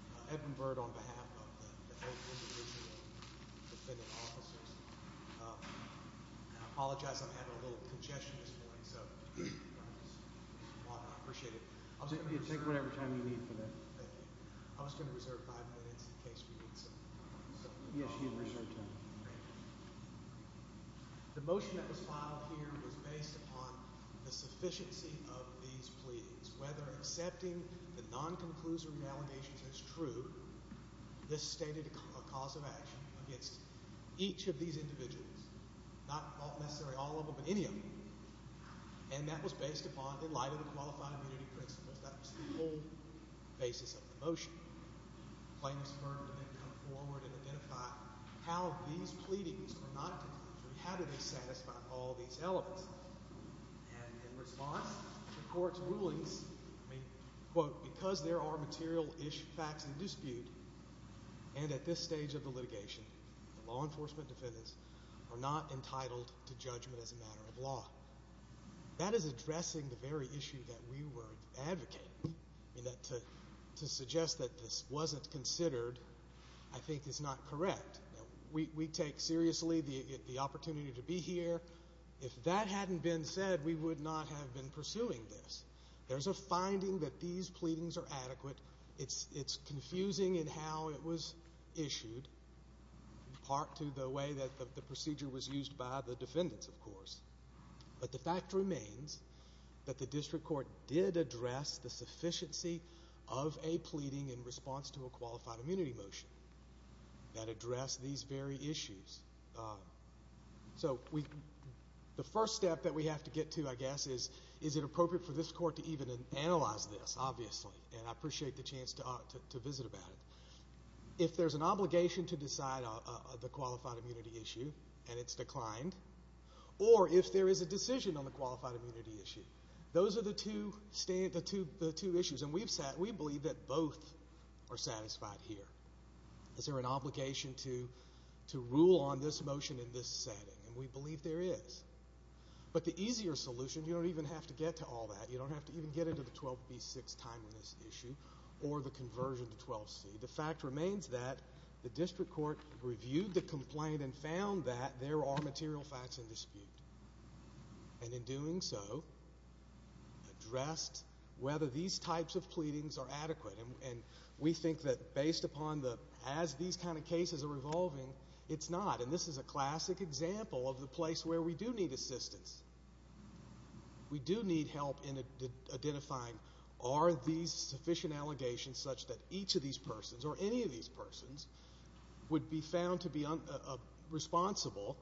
I apologize I'm having a little congestion at this point, so I appreciate it. Take whatever time you need for that. Thank you. I was going to reserve five minutes in case we need some. Yes, you can reserve time. The motion that was filed here was based upon the sufficiency of these pleadings. Whether accepting the non-conclusory allegations as true, this stated a cause of action against each of these individuals, not necessarily all of them, but any of them. And that was based upon, in light of the Qualified Immunity Principles, that was the whole basis of the motion. Claimants were to then come forward and identify how these pleadings were not conclusory, how did they satisfy all these elements. And in response, the court's rulings, quote, because there are material facts in dispute, and at this stage of the litigation, law enforcement defendants are not entitled to judgment as a matter of law. That is addressing the very issue that we were advocating. To suggest that this wasn't considered, I think is not correct. We take seriously the opportunity to be here. If that hadn't been said, we would not have been pursuing this. There's a finding that these pleadings are adequate. It's confusing in how it was issued, in part to the way that the procedure was used by the defendants, of course. But the fact remains that the district court did address the sufficiency of a pleading in response to a qualified immunity motion that addressed these very issues. So the first step that we have to get to, I guess, is is it appropriate for this court to even analyze this, obviously. And I appreciate the chance to visit about it. If there's an obligation to decide the qualified immunity issue, and it's declined, or if there is a decision on the qualified immunity issue, those are the two issues. And we believe that both are satisfied here. Is there an obligation to rule on this motion in this setting? And we believe there is. But the easier solution, you don't even have to get to all that. You don't have to even get into the 12B6 timeliness issue or the conversion to 12C. The fact remains that the district court reviewed the complaint and found that there are material facts in dispute. And in doing so, addressed whether these types of pleadings are adequate. And we think that based upon the as these kind of cases are evolving, it's not. And this is a classic example of the place where we do need assistance. We do need help in identifying are these sufficient allegations such that each of these persons or any of these persons would be found to be responsible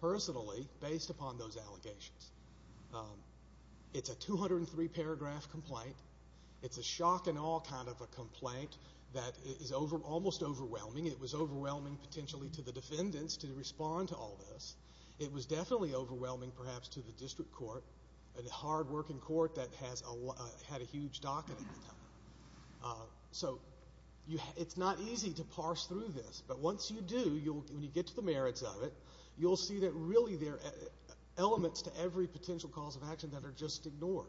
personally based upon those allegations. It's a 203-paragraph complaint. It's a shock and awe kind of a complaint that is almost overwhelming. It was overwhelming potentially to the defendants to respond to all this. It was definitely overwhelming perhaps to the district court, a hardworking court that had a huge docket at the time. So it's not easy to parse through this. But once you do, when you get to the merits of it, you'll see that really there are elements to every potential cause of action that are just ignored.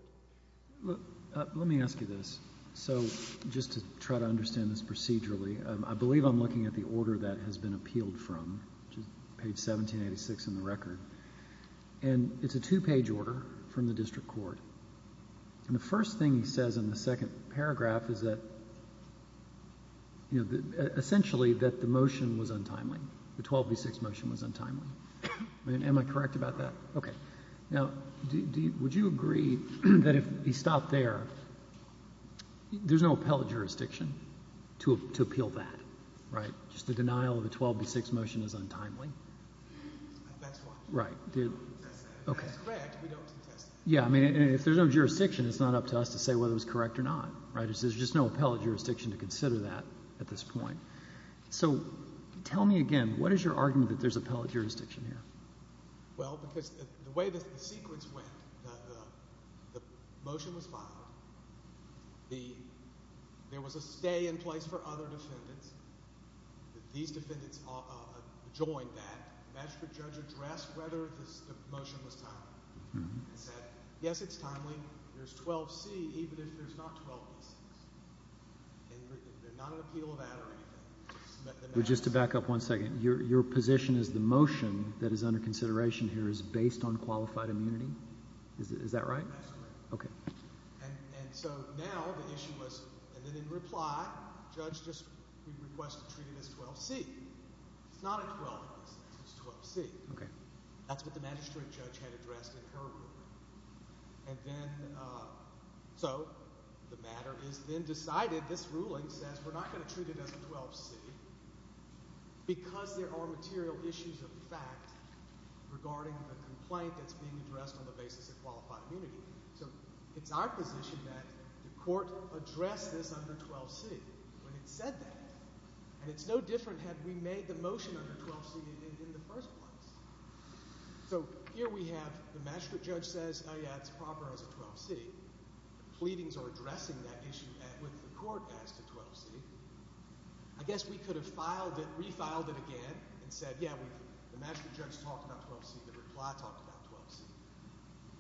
Let me ask you this. So just to try to understand this procedurally, I believe I'm looking at the order that has been appealed from, which is page 1786 in the record. And it's a two-page order from the district court. And the first thing he says in the second paragraph is that, you know, essentially that the motion was untimely, the 12b6 motion was untimely. Am I correct about that? Okay. Now, would you agree that if he stopped there, there's no appellate jurisdiction to appeal that, right? Just the denial of the 12b6 motion is untimely? That's why. Right. That's correct. We don't contest that. Yeah. I mean, if there's no jurisdiction, it's not up to us to say whether it was correct or not, right? There's just no appellate jurisdiction to consider that at this point. So tell me again, what is your argument that there's appellate jurisdiction here? Well, because the way the sequence went, the motion was filed. There was a stay in place for other defendants. These defendants joined that. The magistrate judge addressed whether the motion was timely and said, yes, it's timely. There's 12c, even if there's not 12b6. And there's not an appeal of that or anything. Just to back up one second, your position is the motion that is under consideration here is based on qualified immunity? Is that right? That's correct. Okay. And so now the issue was, and then in reply, the judge just requested to treat it as 12c. It's not a 12b6. It's 12c. Okay. That's what the magistrate judge had addressed in her ruling. And then so the matter is then decided. This ruling says we're not going to treat it as a 12c because there are material issues of fact regarding the complaint that's being addressed on the basis of qualified immunity. So it's our position that the court addressed this under 12c when it said that. And it's no different had we made the motion under 12c in the first place. So here we have the magistrate judge says, oh, yeah, it's proper as a 12c. The pleadings are addressing that issue with the court as to 12c. I guess we could have filed it, refiled it again and said, yeah, the magistrate judge talked about 12c. The reply talked about 12c.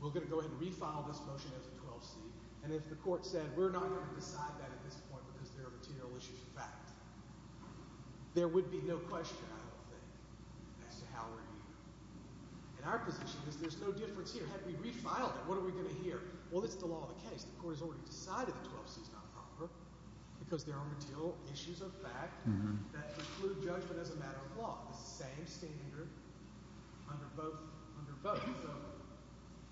We're going to go ahead and refile this motion as a 12c. And if the court said we're not going to decide that at this point because there are material issues of fact, there would be no question, I don't think, as to how we're going to do that. And our position is there's no difference here. Had we refiled it, what are we going to hear? Well, it's the law of the case. The court has already decided that 12c is not proper because there are material issues of fact that include judgment as a matter of law. It's the same standard under both. So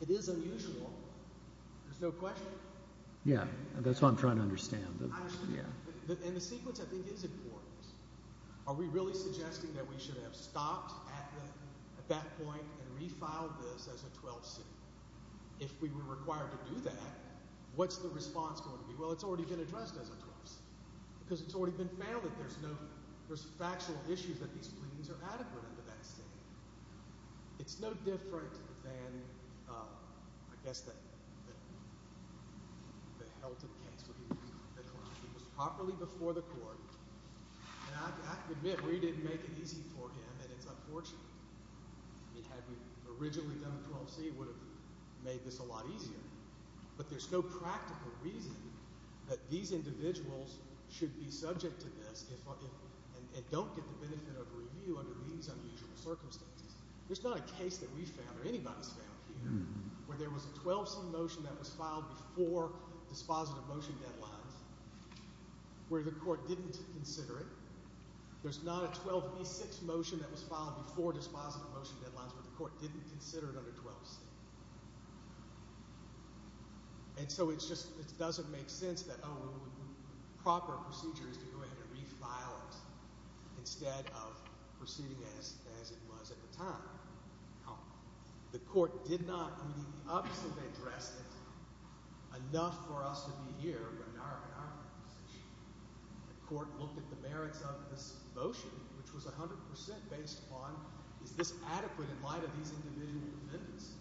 it is unusual. There's no question. Yeah, that's what I'm trying to understand. And the sequence, I think, is important. Are we really suggesting that we should have stopped at that point and refiled this as a 12c? If we were required to do that, what's the response going to be? Well, it's already been addressed as a 12c because it's already been found that there's factual issues that these pleadings are adequate under that statement. It's no different than, I guess, the Helton case where he was properly before the court. And I have to admit, we didn't make it easy for him, and it's unfortunate. Had we originally done a 12c, it would have made this a lot easier. But there's no practical reason that these individuals should be subject to this and don't get the benefit of review under these unusual circumstances. There's not a case that we found or anybody's found here where there was a 12c motion that was filed before dispositive motion deadlines where the court didn't consider it. There's not a 12b6 motion that was filed before dispositive motion deadlines where the court didn't consider it under 12c. And so it just doesn't make sense that a proper procedure is to go ahead and refile it instead of proceeding as it was at the time. The court did not, I mean, obviously they addressed it enough for us to be here in our position. The court looked at the merits of this motion, which was 100% based upon is this adequate in light of these individual commitments?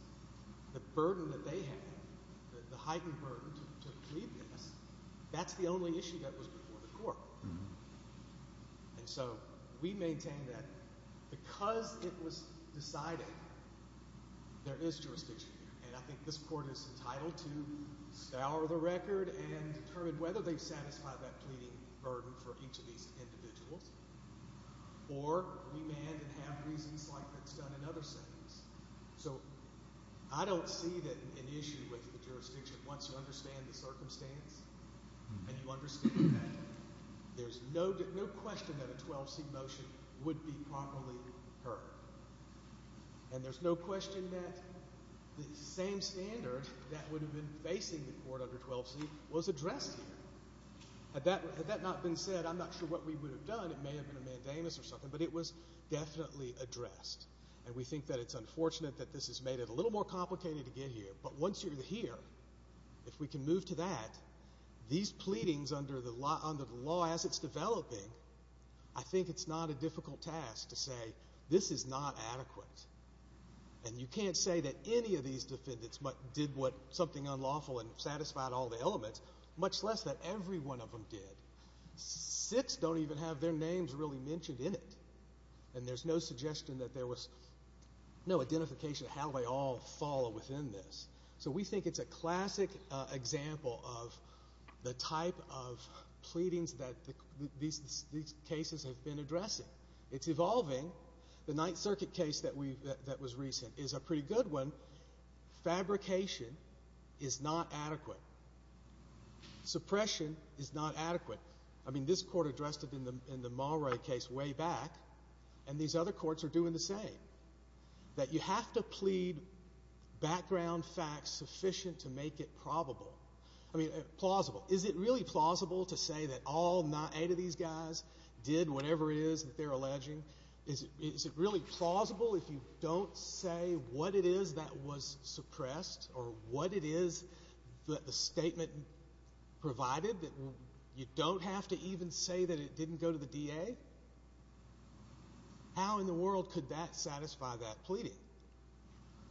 The burden that they had, the heightened burden to plead this, that's the only issue that was before the court. And so we maintain that because it was decided, there is jurisdiction here. And I think this court is entitled to scour the record and determine whether they've satisfied that pleading burden for each of these individuals or remand and have reasons like that's done in other settings. So I don't see that an issue with the jurisdiction once you understand the circumstance and you understand that there's no question that a 12c motion would be properly heard. And there's no question that the same standard that would have been facing the court under 12c was addressed here. Had that not been said, I'm not sure what we would have done. It may have been a mandamus or something, but it was definitely addressed. And we think that it's unfortunate that this has made it a little more complicated to get here, but once you're here, if we can move to that, these pleadings under the law as it's developing, I think it's not a difficult task to say this is not adequate. And you can't say that any of these defendants did something unlawful and satisfied all the elements, much less that every one of them did. Six don't even have their names really mentioned in it. And there's no suggestion that there was no identification of how they all fall within this. So we think it's a classic example of the type of pleadings that these cases have been addressing. It's evolving. The Ninth Circuit case that was recent is a pretty good one. Fabrication is not adequate. Suppression is not adequate. I mean, this court addressed it in the Mulroy case way back, and these other courts are doing the same. That you have to plead background facts sufficient to make it plausible. Is it really plausible to say that all eight of these guys did whatever it is that they're alleging? Is it really plausible if you don't say what it is that was suppressed or what it is that the statement provided, that you don't have to even say that it didn't go to the DA? How in the world could that satisfy that pleading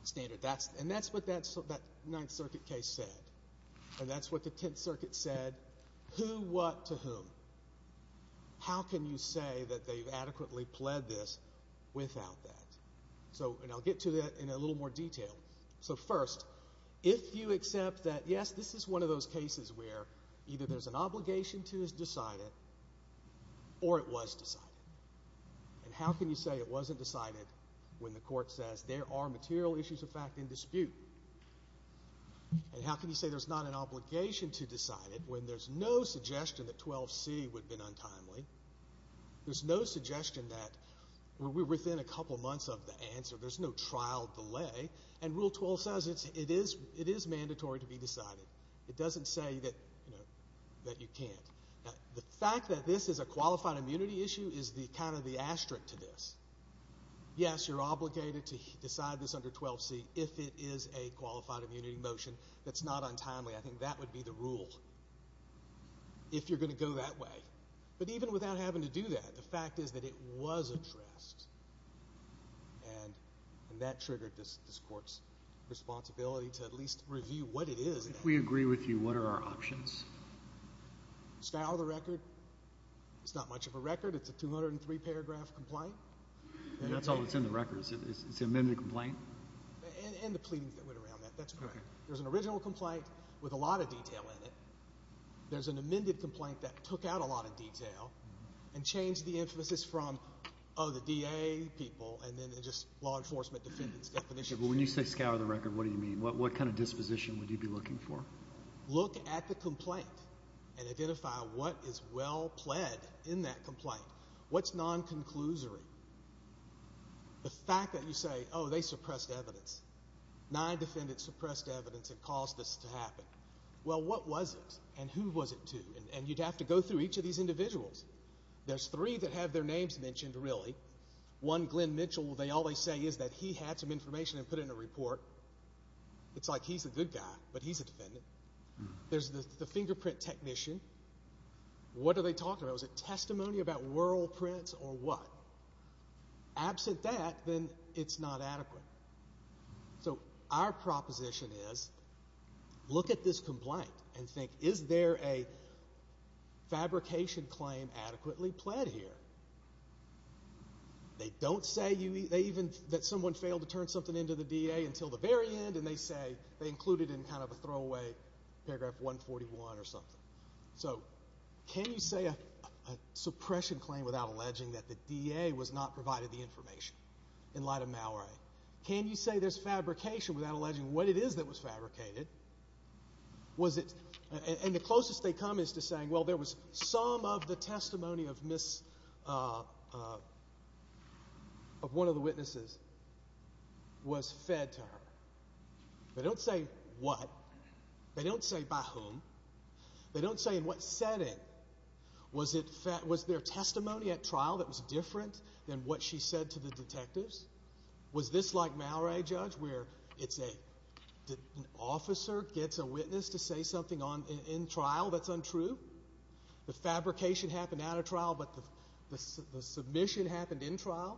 standard? And that's what that Ninth Circuit case said, and that's what the Tenth Circuit said. Who what to whom? How can you say that they've adequately pled this without that? And I'll get to that in a little more detail. So first, if you accept that, yes, this is one of those cases where either there's an obligation to decide it or it was decided. And how can you say it wasn't decided when the court says there are material issues of fact in dispute? And how can you say there's not an obligation to decide it when there's no suggestion that 12C would have been untimely? There's no suggestion that we're within a couple months of the answer. There's no trial delay. And Rule 12 says it is mandatory to be decided. It doesn't say that you can't. Now, the fact that this is a qualified immunity issue is kind of the asterisk to this. Yes, you're obligated to decide this under 12C if it is a qualified immunity motion that's not untimely. I think that would be the rule if you're going to go that way. But even without having to do that, the fact is that it was addressed, and that triggered this court's responsibility to at least review what it is. If we agree with you, what are our options? Scour the record. It's not much of a record. It's a 203-paragraph complaint. That's all that's in the record. It's an amended complaint? And the pleadings that went around that. That's correct. There's an original complaint with a lot of detail in it. There's an amended complaint that took out a lot of detail and changed the emphasis from, oh, the DA, people, and then just law enforcement defendant's definition. When you say scour the record, what do you mean? What kind of disposition would you be looking for? Look at the complaint and identify what is well-pled in that complaint. What's non-conclusory? The fact that you say, oh, they suppressed evidence, nine defendants suppressed evidence that caused this to happen. Well, what was it, and who was it to? And you'd have to go through each of these individuals. There's three that have their names mentioned, really. One, Glenn Mitchell. All they say is that he had some information and put it in a report. It's like he's a good guy, but he's a defendant. There's the fingerprint technician. What are they talking about? Was it testimony about world prints or what? Absent that, then it's not adequate. So our proposition is look at this complaint and think, is there a fabrication claim adequately pled here? They don't say that someone failed to turn something into the DA until the very end, and they say they included it in kind of a throwaway paragraph 141 or something. So can you say a suppression claim without alleging that the DA was not provided the information in light of Malray? Can you say there's fabrication without alleging what it is that was fabricated? And the closest they come is to saying, well, there was some of the testimony of one of the witnesses was fed to her. They don't say what. They don't say by whom. They don't say in what setting. Was there testimony at trial that was different than what she said to the detectives? Was this like Malray, Judge, where it's an officer gets a witness to say something in trial that's untrue? The fabrication happened at a trial, but the submission happened in trial?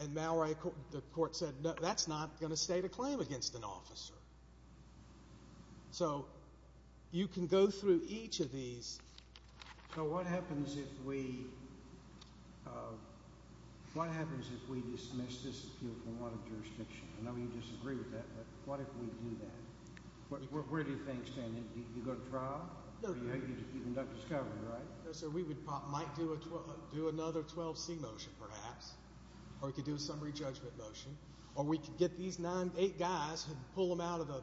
And Malray, the court said, no, that's not going to state a claim against an officer. So you can go through each of these. So what happens if we dismiss this appeal from one of the jurisdictions? I know you disagree with that, but what if we do that? Where do you think standing? Do you go to trial? You conduct discovery, right? So we might do another 12C motion perhaps, or we could do a summary judgment motion, or we could get these eight guys and pull them out of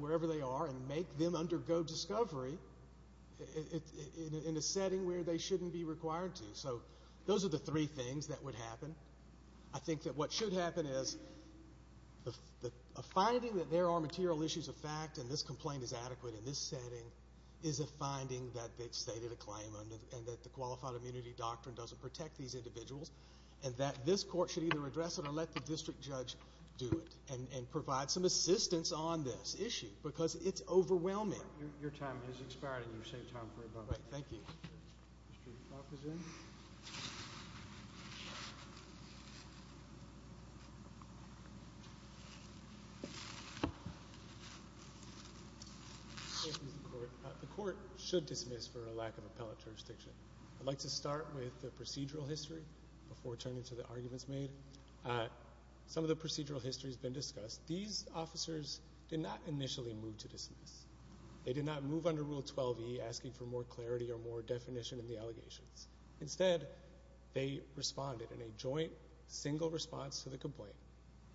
wherever they are and make them undergo discovery in a setting where they shouldn't be required to. So those are the three things that would happen. I think that what should happen is a finding that there are material issues of fact and this complaint is adequate in this setting is a finding that they've stated a claim and that the qualified immunity doctrine doesn't protect these individuals and that this court should either address it or let the district judge do it and provide some assistance on this issue because it's overwhelming. Your time has expired and you've saved time for a moment. All right. Thank you. The court should dismiss for a lack of appellate jurisdiction. I'd like to start with the procedural history before turning to the arguments made. Some of the procedural history has been discussed. These officers did not initially move to dismiss. They did not move under Rule 12E asking for more clarity or more definition in the allegations. Instead, they responded in a joint single response to the complaint.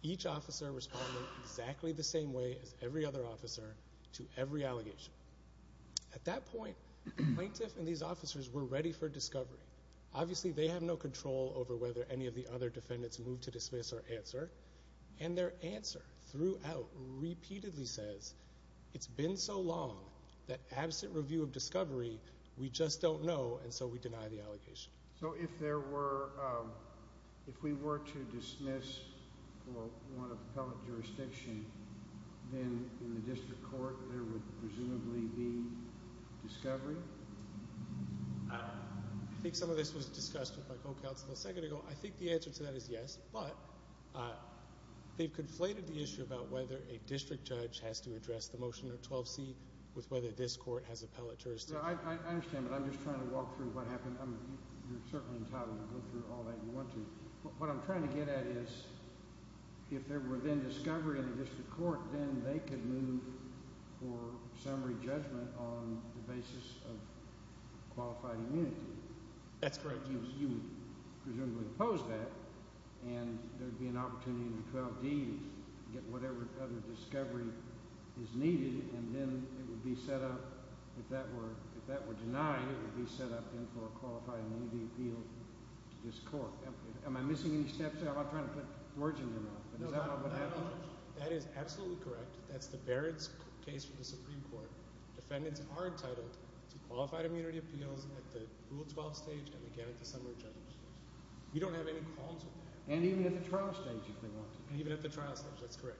Each officer responded exactly the same way as every other officer to every allegation. At that point, the plaintiff and these officers were ready for discovery. Obviously, they have no control over whether any of the other defendants move to dismiss or answer, and their answer throughout repeatedly says, it's been so long that absent review of discovery, we just don't know, and so we deny the allegation. So if we were to dismiss for want of appellate jurisdiction, then in the district court there would presumably be discovery? I think some of this was discussed with my co-counsel a second ago. I think the answer to that is yes, but they've conflated the issue about whether a district judge has to address the motion of 12C with whether this court has appellate jurisdiction. I understand, but I'm just trying to walk through what happened. You're certainly entitled to go through all that if you want to. What I'm trying to get at is if there were then discovery in the district court, then they could move for summary judgment on the basis of qualified immunity. That's correct. But you would presumably oppose that, and there would be an opportunity in the 12D to get whatever other discovery is needed, and then it would be set up if that were denied, it would be set up for a qualified immunity appeal to this court. Am I missing any steps there? I'm not trying to put words in your mouth, but is that what happened? That is absolutely correct. That's the Barrett's case for the Supreme Court. Defendants are entitled to qualified immunity appeals at the Rule 12 stage and again at the summary judgment stage. We don't have any qualms with that. And even at the trial stage if they want to. And even at the trial stage, that's correct.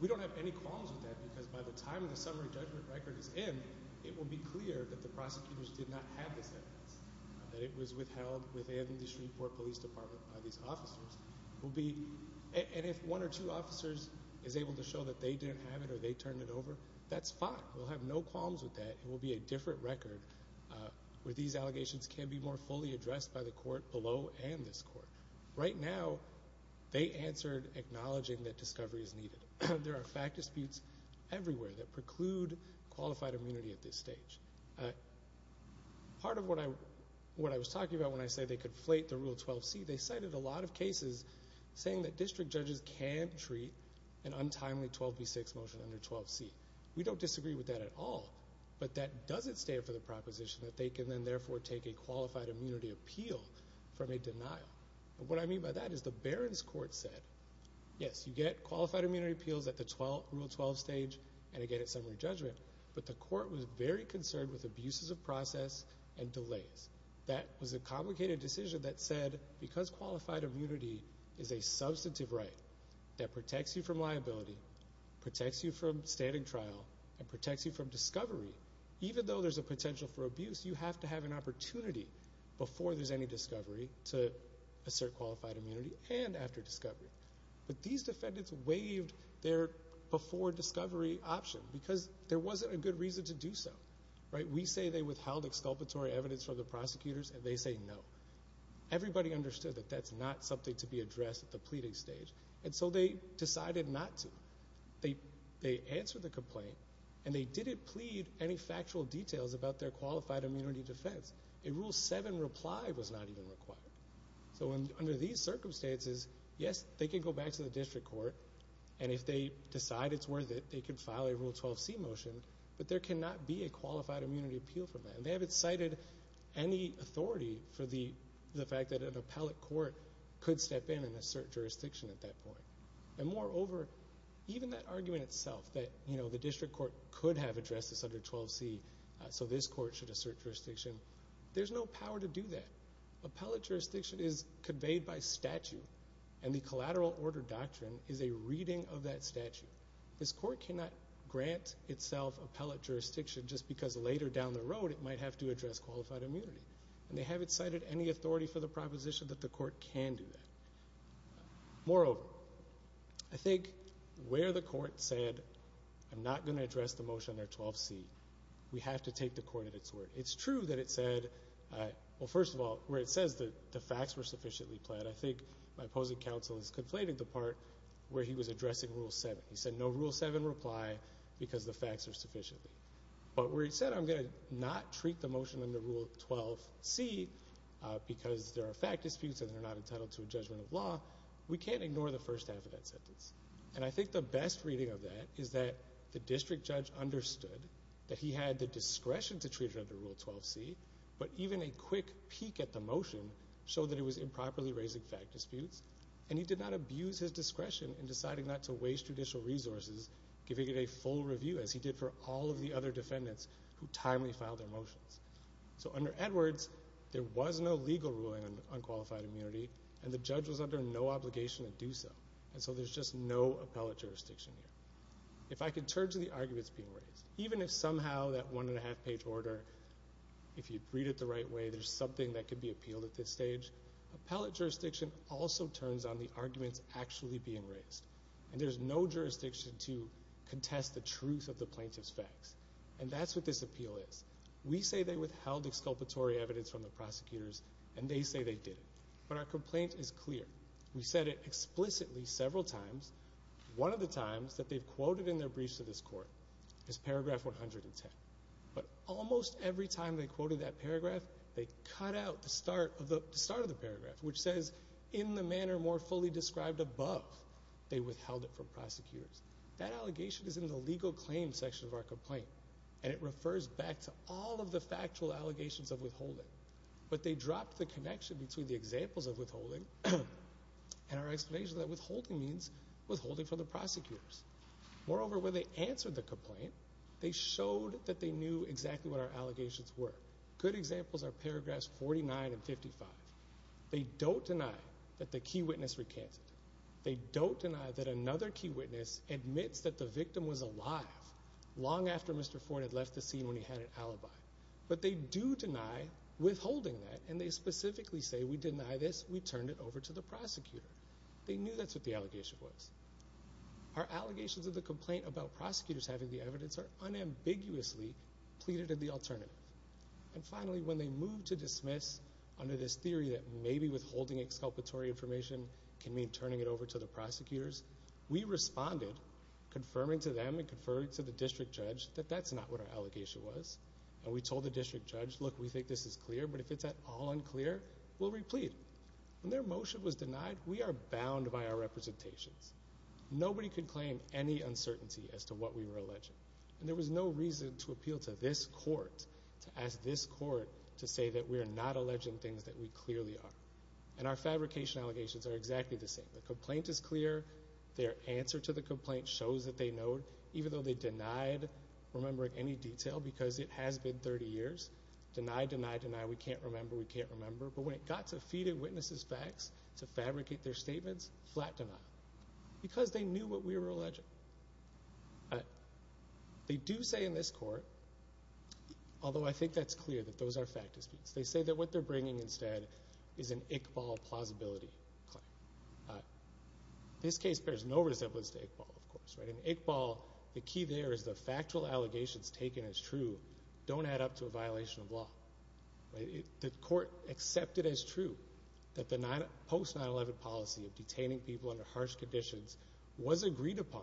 We don't have any qualms with that because by the time the summary judgment record is in, it will be clear that the prosecutors did not have this evidence, that it was withheld within the Supreme Court Police Department by these officers. And if one or two officers is able to show that they didn't have it or they turned it over, that's fine. We'll have no qualms with that. It will be a different record where these allegations can be more fully addressed by the court below and this court. Right now, they answered acknowledging that discovery is needed. There are fact disputes everywhere that preclude qualified immunity at this stage. Part of what I was talking about when I said they could flate the Rule 12C, they cited a lot of cases saying that district judges can't treat an untimely 12B6 motion under 12C. We don't disagree with that at all. But that doesn't stand for the proposition that they can then therefore take a qualified immunity appeal from a denial. And what I mean by that is the Barron's court said, yes, you get qualified immunity appeals at the Rule 12 stage and again at summary judgment, but the court was very concerned with abuses of process and delays. That was a complicated decision that said because qualified immunity is a substantive right that protects you from liability, protects you from standing trial, and protects you from discovery, even though there's a potential for abuse, you have to have an opportunity before there's any discovery to assert qualified immunity and after discovery. But these defendants waived their before discovery option because there wasn't a good reason to do so. We say they withheld exculpatory evidence from the prosecutors and they say no. Everybody understood that that's not something to be addressed at the pleading stage and so they decided not to. They answered the complaint and they didn't plead any factual details about their qualified immunity defense. A Rule 7 reply was not even required. So under these circumstances, yes, they can go back to the district court and if they decide it's worth it, they can file a Rule 12C motion, but there cannot be a qualified immunity appeal from that. They haven't cited any authority for the fact that an appellate court could step in and assert jurisdiction at that point. And moreover, even that argument itself that the district court could have addressed this under 12C so this court should assert jurisdiction, there's no power to do that. Appellate jurisdiction is conveyed by statute and the collateral order doctrine is a reading of that statute. This court cannot grant itself appellate jurisdiction just because later down the road it might have to address qualified immunity. And they haven't cited any authority for the proposition that the court can do that. Moreover, I think where the court said I'm not going to address the motion under 12C, we have to take the court at its word. It's true that it said, well, first of all, where it says that the facts were sufficiently planned, I think my opposing counsel has conflated the part where he was addressing Rule 7. He said no Rule 7 reply because the facts are sufficiently. But where he said I'm going to not treat the motion under Rule 12C because there are fact disputes and they're not entitled to a judgment of law, we can't ignore the first half of that sentence. And I think the best reading of that is that the district judge understood that he had the discretion to treat it under Rule 12C, but even a quick peek at the motion showed that he was improperly raising fact disputes and he did not abuse his discretion in deciding not to waste judicial resources, giving it a full review as he did for all of the other defendants who timely filed their motions. So under Edwards, there was no legal ruling on qualified immunity and the judge was under no obligation to do so. And so there's just no appellate jurisdiction here. If I could turn to the arguments being raised, even if somehow that one and a half page order, if you read it the right way, there's something that could be appealed at this stage. Appellate jurisdiction also turns on the arguments actually being raised. And there's no jurisdiction to contest the truth of the plaintiff's facts. And that's what this appeal is. We say they withheld exculpatory evidence from the prosecutors and they say they did it. But our complaint is clear. We said it explicitly several times. One of the times that they've quoted in their briefs to this Court is paragraph 110. But almost every time they quoted that paragraph, they cut out the start of the paragraph, which says, in the manner more fully described above, they withheld it from prosecutors. That allegation is in the legal claim section of our complaint. And it refers back to all of the factual allegations of withholding. But they dropped the connection between the examples of withholding and our explanation that withholding means withholding from the prosecutors. Moreover, when they answered the complaint, they showed that they knew exactly what our allegations were. Good examples are paragraphs 49 and 55. They don't deny that the key witness recanted. They don't deny that another key witness admits that the victim was alive long after Mr. Ford had left the scene when he had an alibi. But they do deny withholding that, and they specifically say, we deny this, we turned it over to the prosecutor. They knew that's what the allegation was. Our allegations of the complaint about prosecutors having the evidence are unambiguously pleaded at the alternative. And finally, when they moved to dismiss under this theory that maybe withholding exculpatory information can mean turning it over to the prosecutors, we responded, confirming to them and confirming to the district judge that that's not what our allegation was. And we told the district judge, look, we think this is clear, but if it's at all unclear, we'll replead. When their motion was denied, we are bound by our representations. Nobody could claim any uncertainty as to what we were alleging. And there was no reason to appeal to this court to ask this court to say that we are not alleging things that we clearly are. And our fabrication allegations are exactly the same. The complaint is clear. Their answer to the complaint shows that they know, even though they denied remembering any detail because it has been 30 years. Deny, deny, deny, we can't remember, we can't remember. But when it got to feeding witnesses facts to fabricate their statements, flat denial, because they knew what we were alleging. They do say in this court, although I think that's clear that those are fact disputes, they say that what they're bringing instead is an Iqbal plausibility claim. This case bears no resemblance to Iqbal, of course. In Iqbal, the key there is the factual allegations taken as true don't add up to a violation of law. The court accepted as true that the post-9-11 policy of detaining people under harsh conditions was agreed upon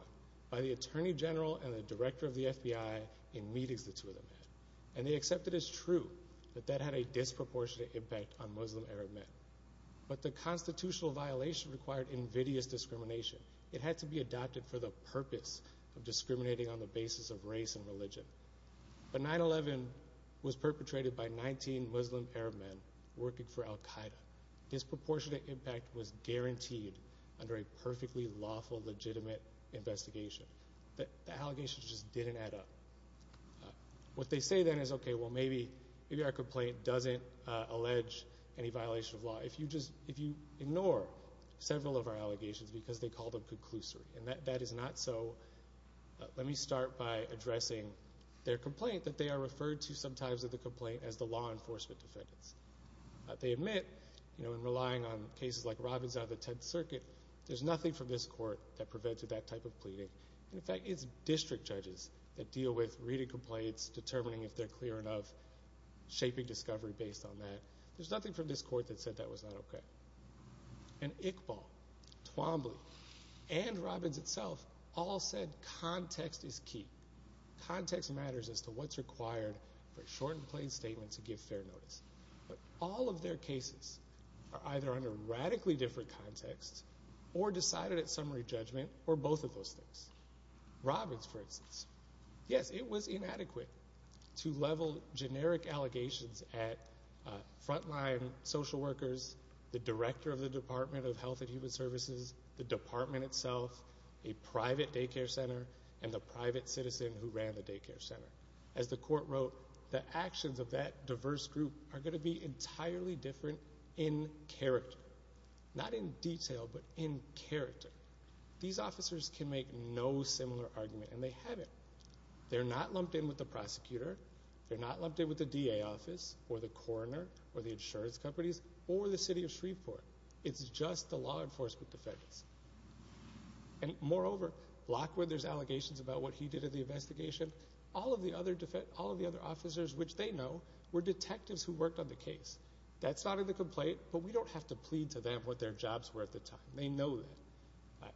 by the attorney general and the director of the FBI in meetings the two of them had. And they accepted as true that that had a disproportionate impact on Muslim Arab men. But the constitutional violation required invidious discrimination. It had to be adopted for the purpose of discriminating on the basis of race and religion. But 9-11 was perpetrated by 19 Muslim Arab men working for Al-Qaeda. Disproportionate impact was guaranteed under a perfectly lawful, legitimate investigation. The allegations just didn't add up. What they say then is, okay, well maybe our complaint doesn't allege any violation of law if you ignore several of our allegations because they call them conclusory. And that is not so. Let me start by addressing their complaint that they are referred to sometimes in the complaint as the law enforcement defendants. They admit in relying on cases like Robbins out of the Tenth Circuit, there's nothing from this court that prevented that type of pleading. In fact, it's district judges that deal with reading complaints, determining if they're clear enough, shaping discovery based on that. There's nothing from this court that said that was not okay. And Iqbal, Twombly, and Robbins itself all said context is key. Context matters as to what's required for a short and plain statement to give fair notice. But all of their cases are either under radically different context or decided at summary judgment or both of those things. Robbins, for instance. Yes, it was inadequate to level generic allegations at frontline social workers, the director of the Department of Health and Human Services, the department itself, a private daycare center, and the private citizen who ran the daycare center. As the court wrote, the actions of that diverse group are going to be entirely different in character. Not in detail, but in character. These officers can make no similar argument, and they haven't. They're not lumped in with the prosecutor. They're not lumped in with the DA office or the coroner or the insurance companies or the city of Shreveport. It's just the law enforcement defendants. And moreover, Lockwood, there's allegations about what he did in the investigation. All of the other officers, which they know, were detectives who worked on the case. That's not in the complaint, but we don't have to plead to them what their jobs were at the time. They know that.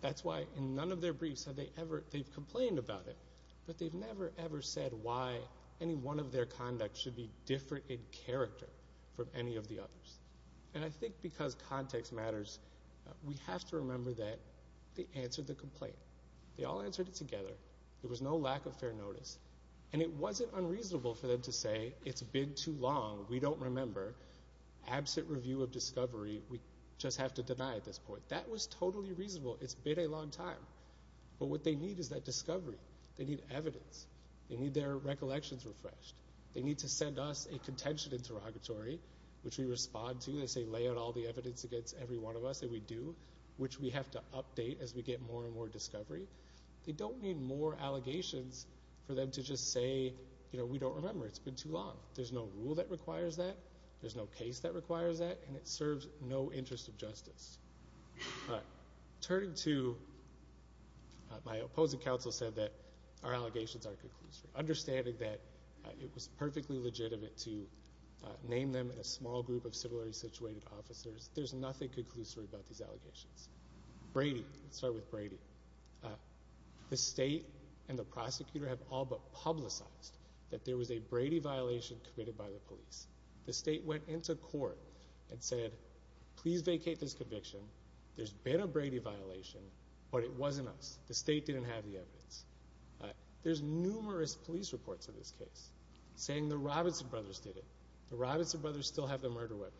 That's why in none of their briefs have they ever complained about it, but they've never, ever said why any one of their conduct should be different in character from any of the others. And I think because context matters, we have to remember that they answered the complaint. They all answered it together. There was no lack of fair notice. And it wasn't unreasonable for them to say, it's been too long, we don't remember, absent review of discovery, we just have to deny at this point. That was totally reasonable. It's been a long time. But what they need is that discovery. They need evidence. They need their recollections refreshed. They need to send us a contention interrogatory, which we respond to. They say lay out all the evidence against every one of us that we do, which we have to update as we get more and more discovery. They don't need more allegations for them to just say, you know, we don't remember, it's been too long. There's no rule that requires that. There's no case that requires that. And it serves no interest of justice. Turning to my opposing counsel said that our allegations aren't conclusory. Understanding that it was perfectly legitimate to name them in a small group of similarly situated officers, there's nothing conclusory about these allegations. Brady, let's start with Brady. The state and the prosecutor have all but publicized that there was a Brady violation committed by the police. The state went into court and said, please vacate this conviction. There's been a Brady violation, but it wasn't us. The state didn't have the evidence. There's numerous police reports of this case saying the Robinson brothers did it. The Robinson brothers still have the murder weapon.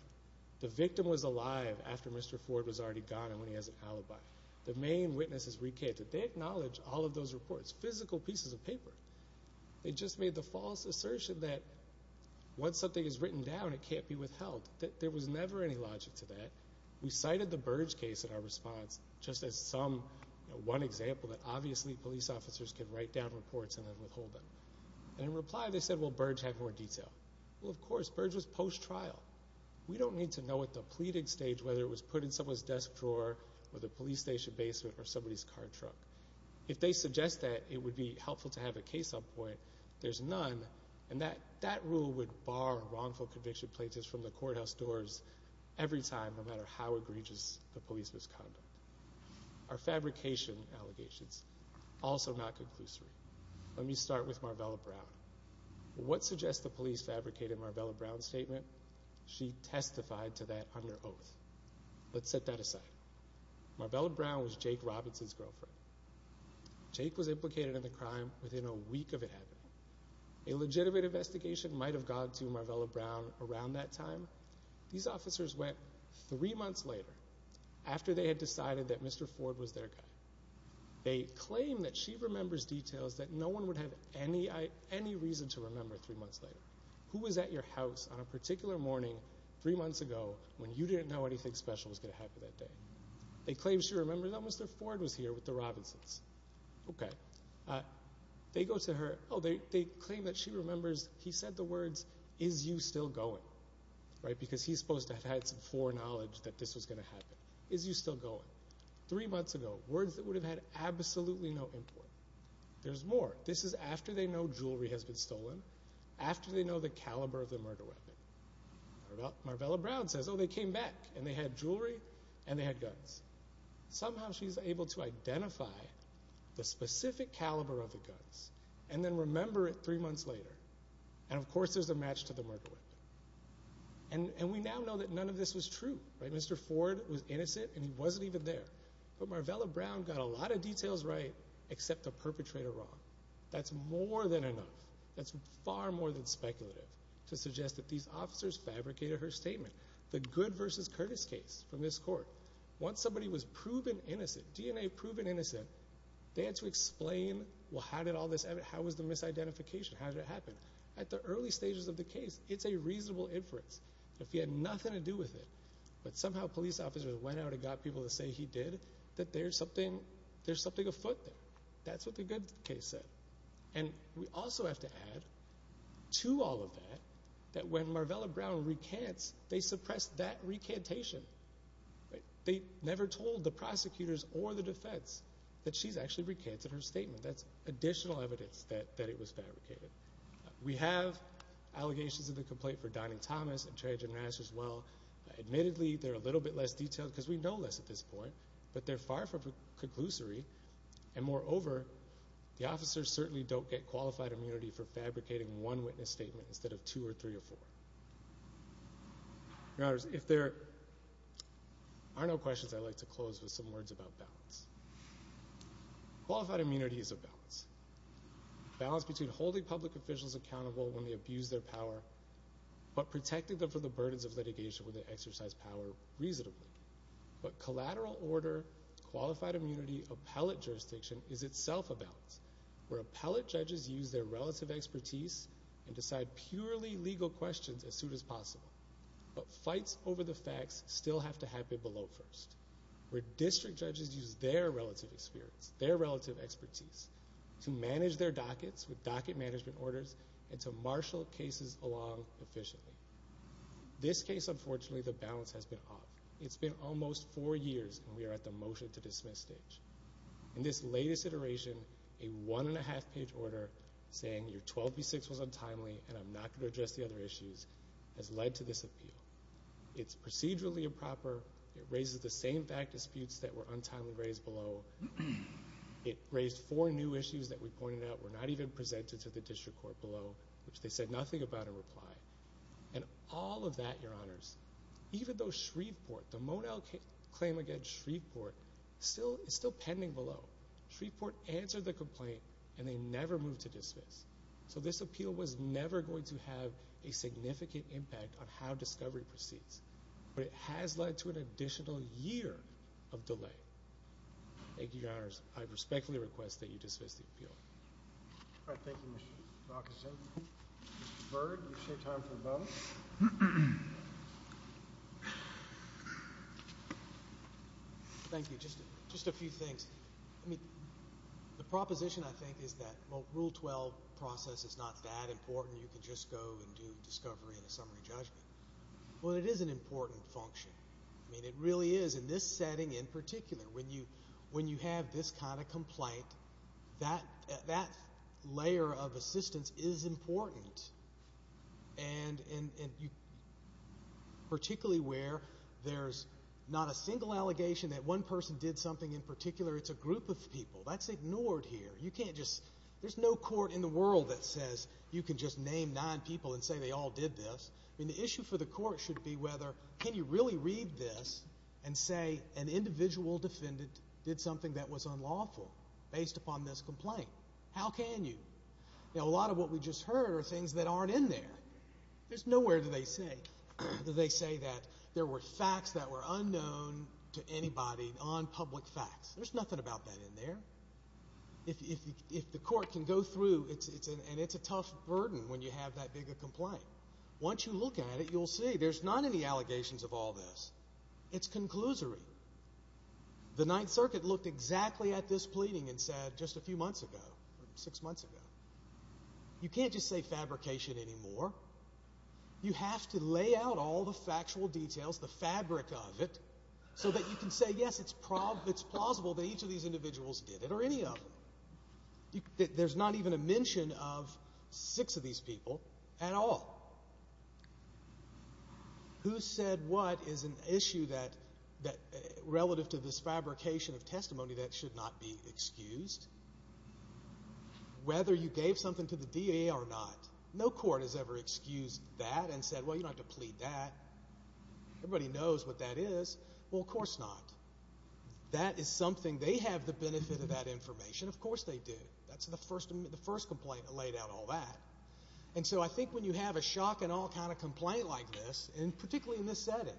The victim was alive after Mr. Ford was already gone and when he has an alibi. The main witnesses recanted. They acknowledge all of those reports, physical pieces of paper. They just made the false assertion that once something is written down, it can't be withheld. There was never any logic to that. We cited the Burge case in our response just as one example that obviously police officers can write down reports and then withhold them. In reply, they said, well, Burge had more detail. Well, of course, Burge was post-trial. We don't need to know at the pleading stage whether it was put in someone's desk drawer or the police station basement or somebody's car truck. If they suggest that, it would be helpful to have a case on point. There's none, and that rule would bar wrongful conviction plaintiffs from the courthouse doors every time, no matter how egregious the police misconduct. Are fabrication allegations also not conclusory? Let me start with Marvella Brown. What suggests the police fabricated Marvella Brown's statement? She testified to that under oath. Let's set that aside. Marvella Brown was Jake Robinson's girlfriend. Jake was implicated in the crime within a week of it happening. A legitimate investigation might have gone to Marvella Brown around that time. These officers went three months later after they had decided that Mr. Ford was their guy. They claimed that she remembers details that no one would have any reason to remember three months later. Who was at your house on a particular morning three months ago when you didn't know anything special was going to happen that day? They claim she remembers that Mr. Ford was here with the Robinsons. Okay. They go to her. Oh, they claim that she remembers he said the words, is you still going? Right, because he's supposed to have had some foreknowledge that this was going to happen. Is you still going? Three months ago, words that would have had absolutely no import. There's more. This is after they know jewelry has been stolen, after they know the caliber of the murder weapon. Marvella Brown says, oh, they came back and they had jewelry and they had guns. Somehow she's able to identify the specific caliber of the guns and then remember it three months later. And, of course, there's a match to the murder weapon. And we now know that none of this was true. Mr. Ford was innocent and he wasn't even there. But Marvella Brown got a lot of details right except the perpetrator wrong. That's more than enough. That's far more than speculative to suggest that these officers fabricated her statement. The Good v. Curtis case from this court, once somebody was proven innocent, DNA proven innocent, they had to explain, well, how did all this happen? How was the misidentification? How did it happen? At the early stages of the case, it's a reasonable inference. If he had nothing to do with it but somehow police officers went out and got people to say he did, that there's something afoot there. That's what the Good case said. And we also have to add to all of that that when Marvella Brown recants, they suppress that recantation. They never told the prosecutors or the defense that she's actually recanted her statement. That's additional evidence that it was fabricated. We have allegations of the complaint for Donning-Thomas and Trajan-Mass as well. Admittedly, they're a little bit less detailed because we know less at this point, but they're far from conclusory. And moreover, the officers certainly don't get qualified immunity for fabricating one witness statement instead of two or three or four. If there are no questions, I'd like to close with some words about balance. Qualified immunity is a balance. Balance between holding public officials accountable when they abuse their power but protecting them from the burdens of litigation when they exercise power reasonably. But collateral order, qualified immunity, appellate jurisdiction is itself a balance where appellate judges use their relative expertise and decide purely legal questions as soon as possible. But fights over the facts still have to happen below first. Where district judges use their relative experience, their relative expertise, to manage their dockets with docket management orders and to marshal cases along efficiently. This case, unfortunately, the balance has been off. It's been almost four years, and we are at the motion to dismiss stage. In this latest iteration, a one-and-a-half-page order saying your 12B6 was untimely and I'm not going to address the other issues has led to this appeal. It's procedurally improper. It raises the same fact disputes that were untimely raised below. It raised four new issues that we pointed out were not even presented to the district court below, which they said nothing about in reply. And all of that, Your Honors, even though Shreveport, the Monell claim against Shreveport, is still pending below. Shreveport answered the complaint, and they never moved to dismiss. So this appeal was never going to have a significant impact on how discovery proceeds, but it has led to an additional year of delay. Thank you, Your Honors. I respectfully request that you dismiss the appeal. All right. Thank you, Mr. Rockison. Mr. Byrd, you've saved time for both. Thank you. Just a few things. The proposition, I think, is that, well, Rule 12 process is not that important. You can just go and do discovery and a summary judgment. Well, it is an important function. I mean, it really is. In this setting in particular, when you have this kind of complaint, that layer of assistance is important. And particularly where there's not a single allegation that one person did something in particular, it's a group of people. That's ignored here. There's no court in the world that says you can just name nine people and say they all did this. I mean, the issue for the court should be whether can you really read this and say an individual defendant did something that was unlawful based upon this complaint. How can you? A lot of what we just heard are things that aren't in there. There's nowhere do they say that there were facts that were unknown to anybody on public facts. There's nothing about that in there. If the court can go through, and it's a tough burden when you have that big a complaint. Once you look at it, you'll see there's not any allegations of all this. It's conclusory. The Ninth Circuit looked exactly at this pleading and said just a few months ago, six months ago, you can't just say fabrication anymore. You have to lay out all the factual details, the fabric of it, so that you can say, yes, it's plausible that each of these individuals did it or any of them. There's not even a mention of six of these people at all. Who said what is an issue relative to this fabrication of testimony that should not be excused. Whether you gave something to the DA or not, no court has ever excused that and said, well, you don't have to plead that. Everybody knows what that is. Well, of course not. That is something they have the benefit of that information. Of course they do. That's the first complaint that laid out all that. And so I think when you have a shock and awe kind of complaint like this, and particularly in this setting,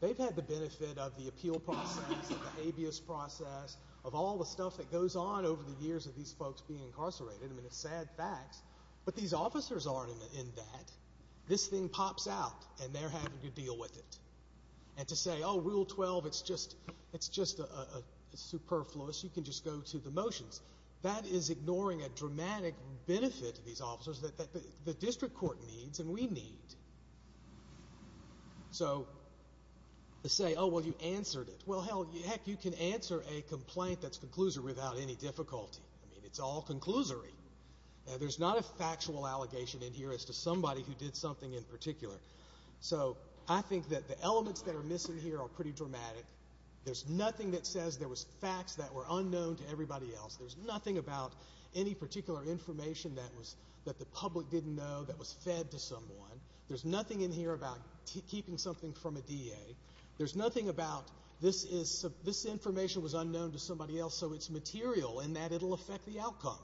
they've had the benefit of the appeal process, the habeas process, of all the stuff that goes on over the years of these folks being incarcerated. I mean, it's sad facts. But these officers aren't in that. This thing pops out, and they're having to deal with it. And to say, oh, Rule 12, it's just superfluous. You can just go to the motions. That is ignoring a dramatic benefit to these officers that the district court needs and we need. So to say, oh, well, you answered it. Well, hell, heck, you can answer a complaint that's conclusory without any difficulty. I mean, it's all conclusory. There's not a factual allegation in here as to somebody who did something in particular. So I think that the elements that are missing here are pretty dramatic. There's nothing that says there was facts that were unknown to everybody else. There's nothing about any particular information that the public didn't know that was fed to someone. There's nothing in here about keeping something from a DA. There's nothing about this information was unknown to somebody else, so it's material in that it will affect the outcome.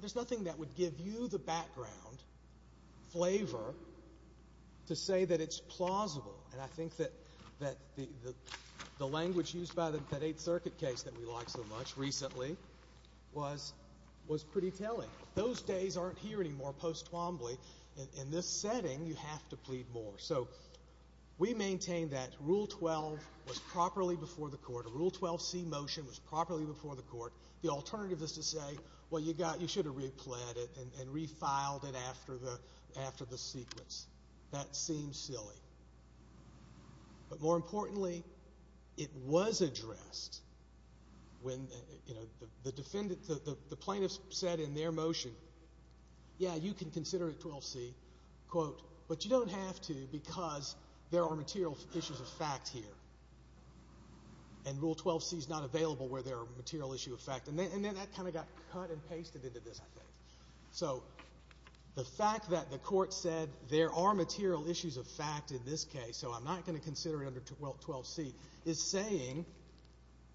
There's nothing that would give you the background flavor to say that it's plausible. And I think that the language used by that Eighth Circuit case that we liked so much recently was pretty telling. Those days aren't here anymore post-Twombly. In this setting, you have to plead more. So we maintain that Rule 12 was properly before the court. The Rule 12c motion was properly before the court. The alternative is to say, well, you should have replead it and refiled it after the sequence. That seems silly. But more importantly, it was addressed when the plaintiff said in their motion, yeah, you can consider it 12c, quote, but you don't have to because there are material issues of fact here. And Rule 12c is not available where there are material issues of fact. And then that kind of got cut and pasted into this, I think. So the fact that the court said there are material issues of fact in this case, so I'm not going to consider it under 12c, is saying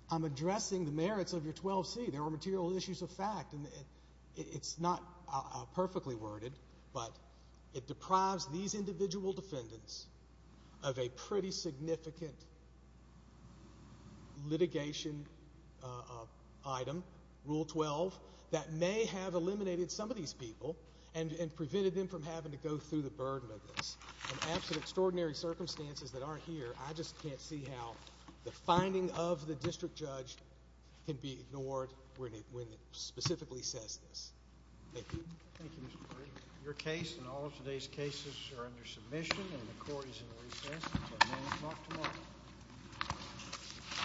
I'm addressing the merits of your 12c. There are material issues of fact. It's not perfectly worded, but it deprives these individual defendants of a pretty significant litigation item, Rule 12, that may have eliminated some of these people and prevented them from having to go through the burden of this. In absolute extraordinary circumstances that aren't here, I just can't see how the finding of the district judge can be ignored when it specifically says this. Thank you. Thank you, Mr. Murray. Your case and all of today's cases are under submission, and the court is in recess until 9 o'clock tomorrow.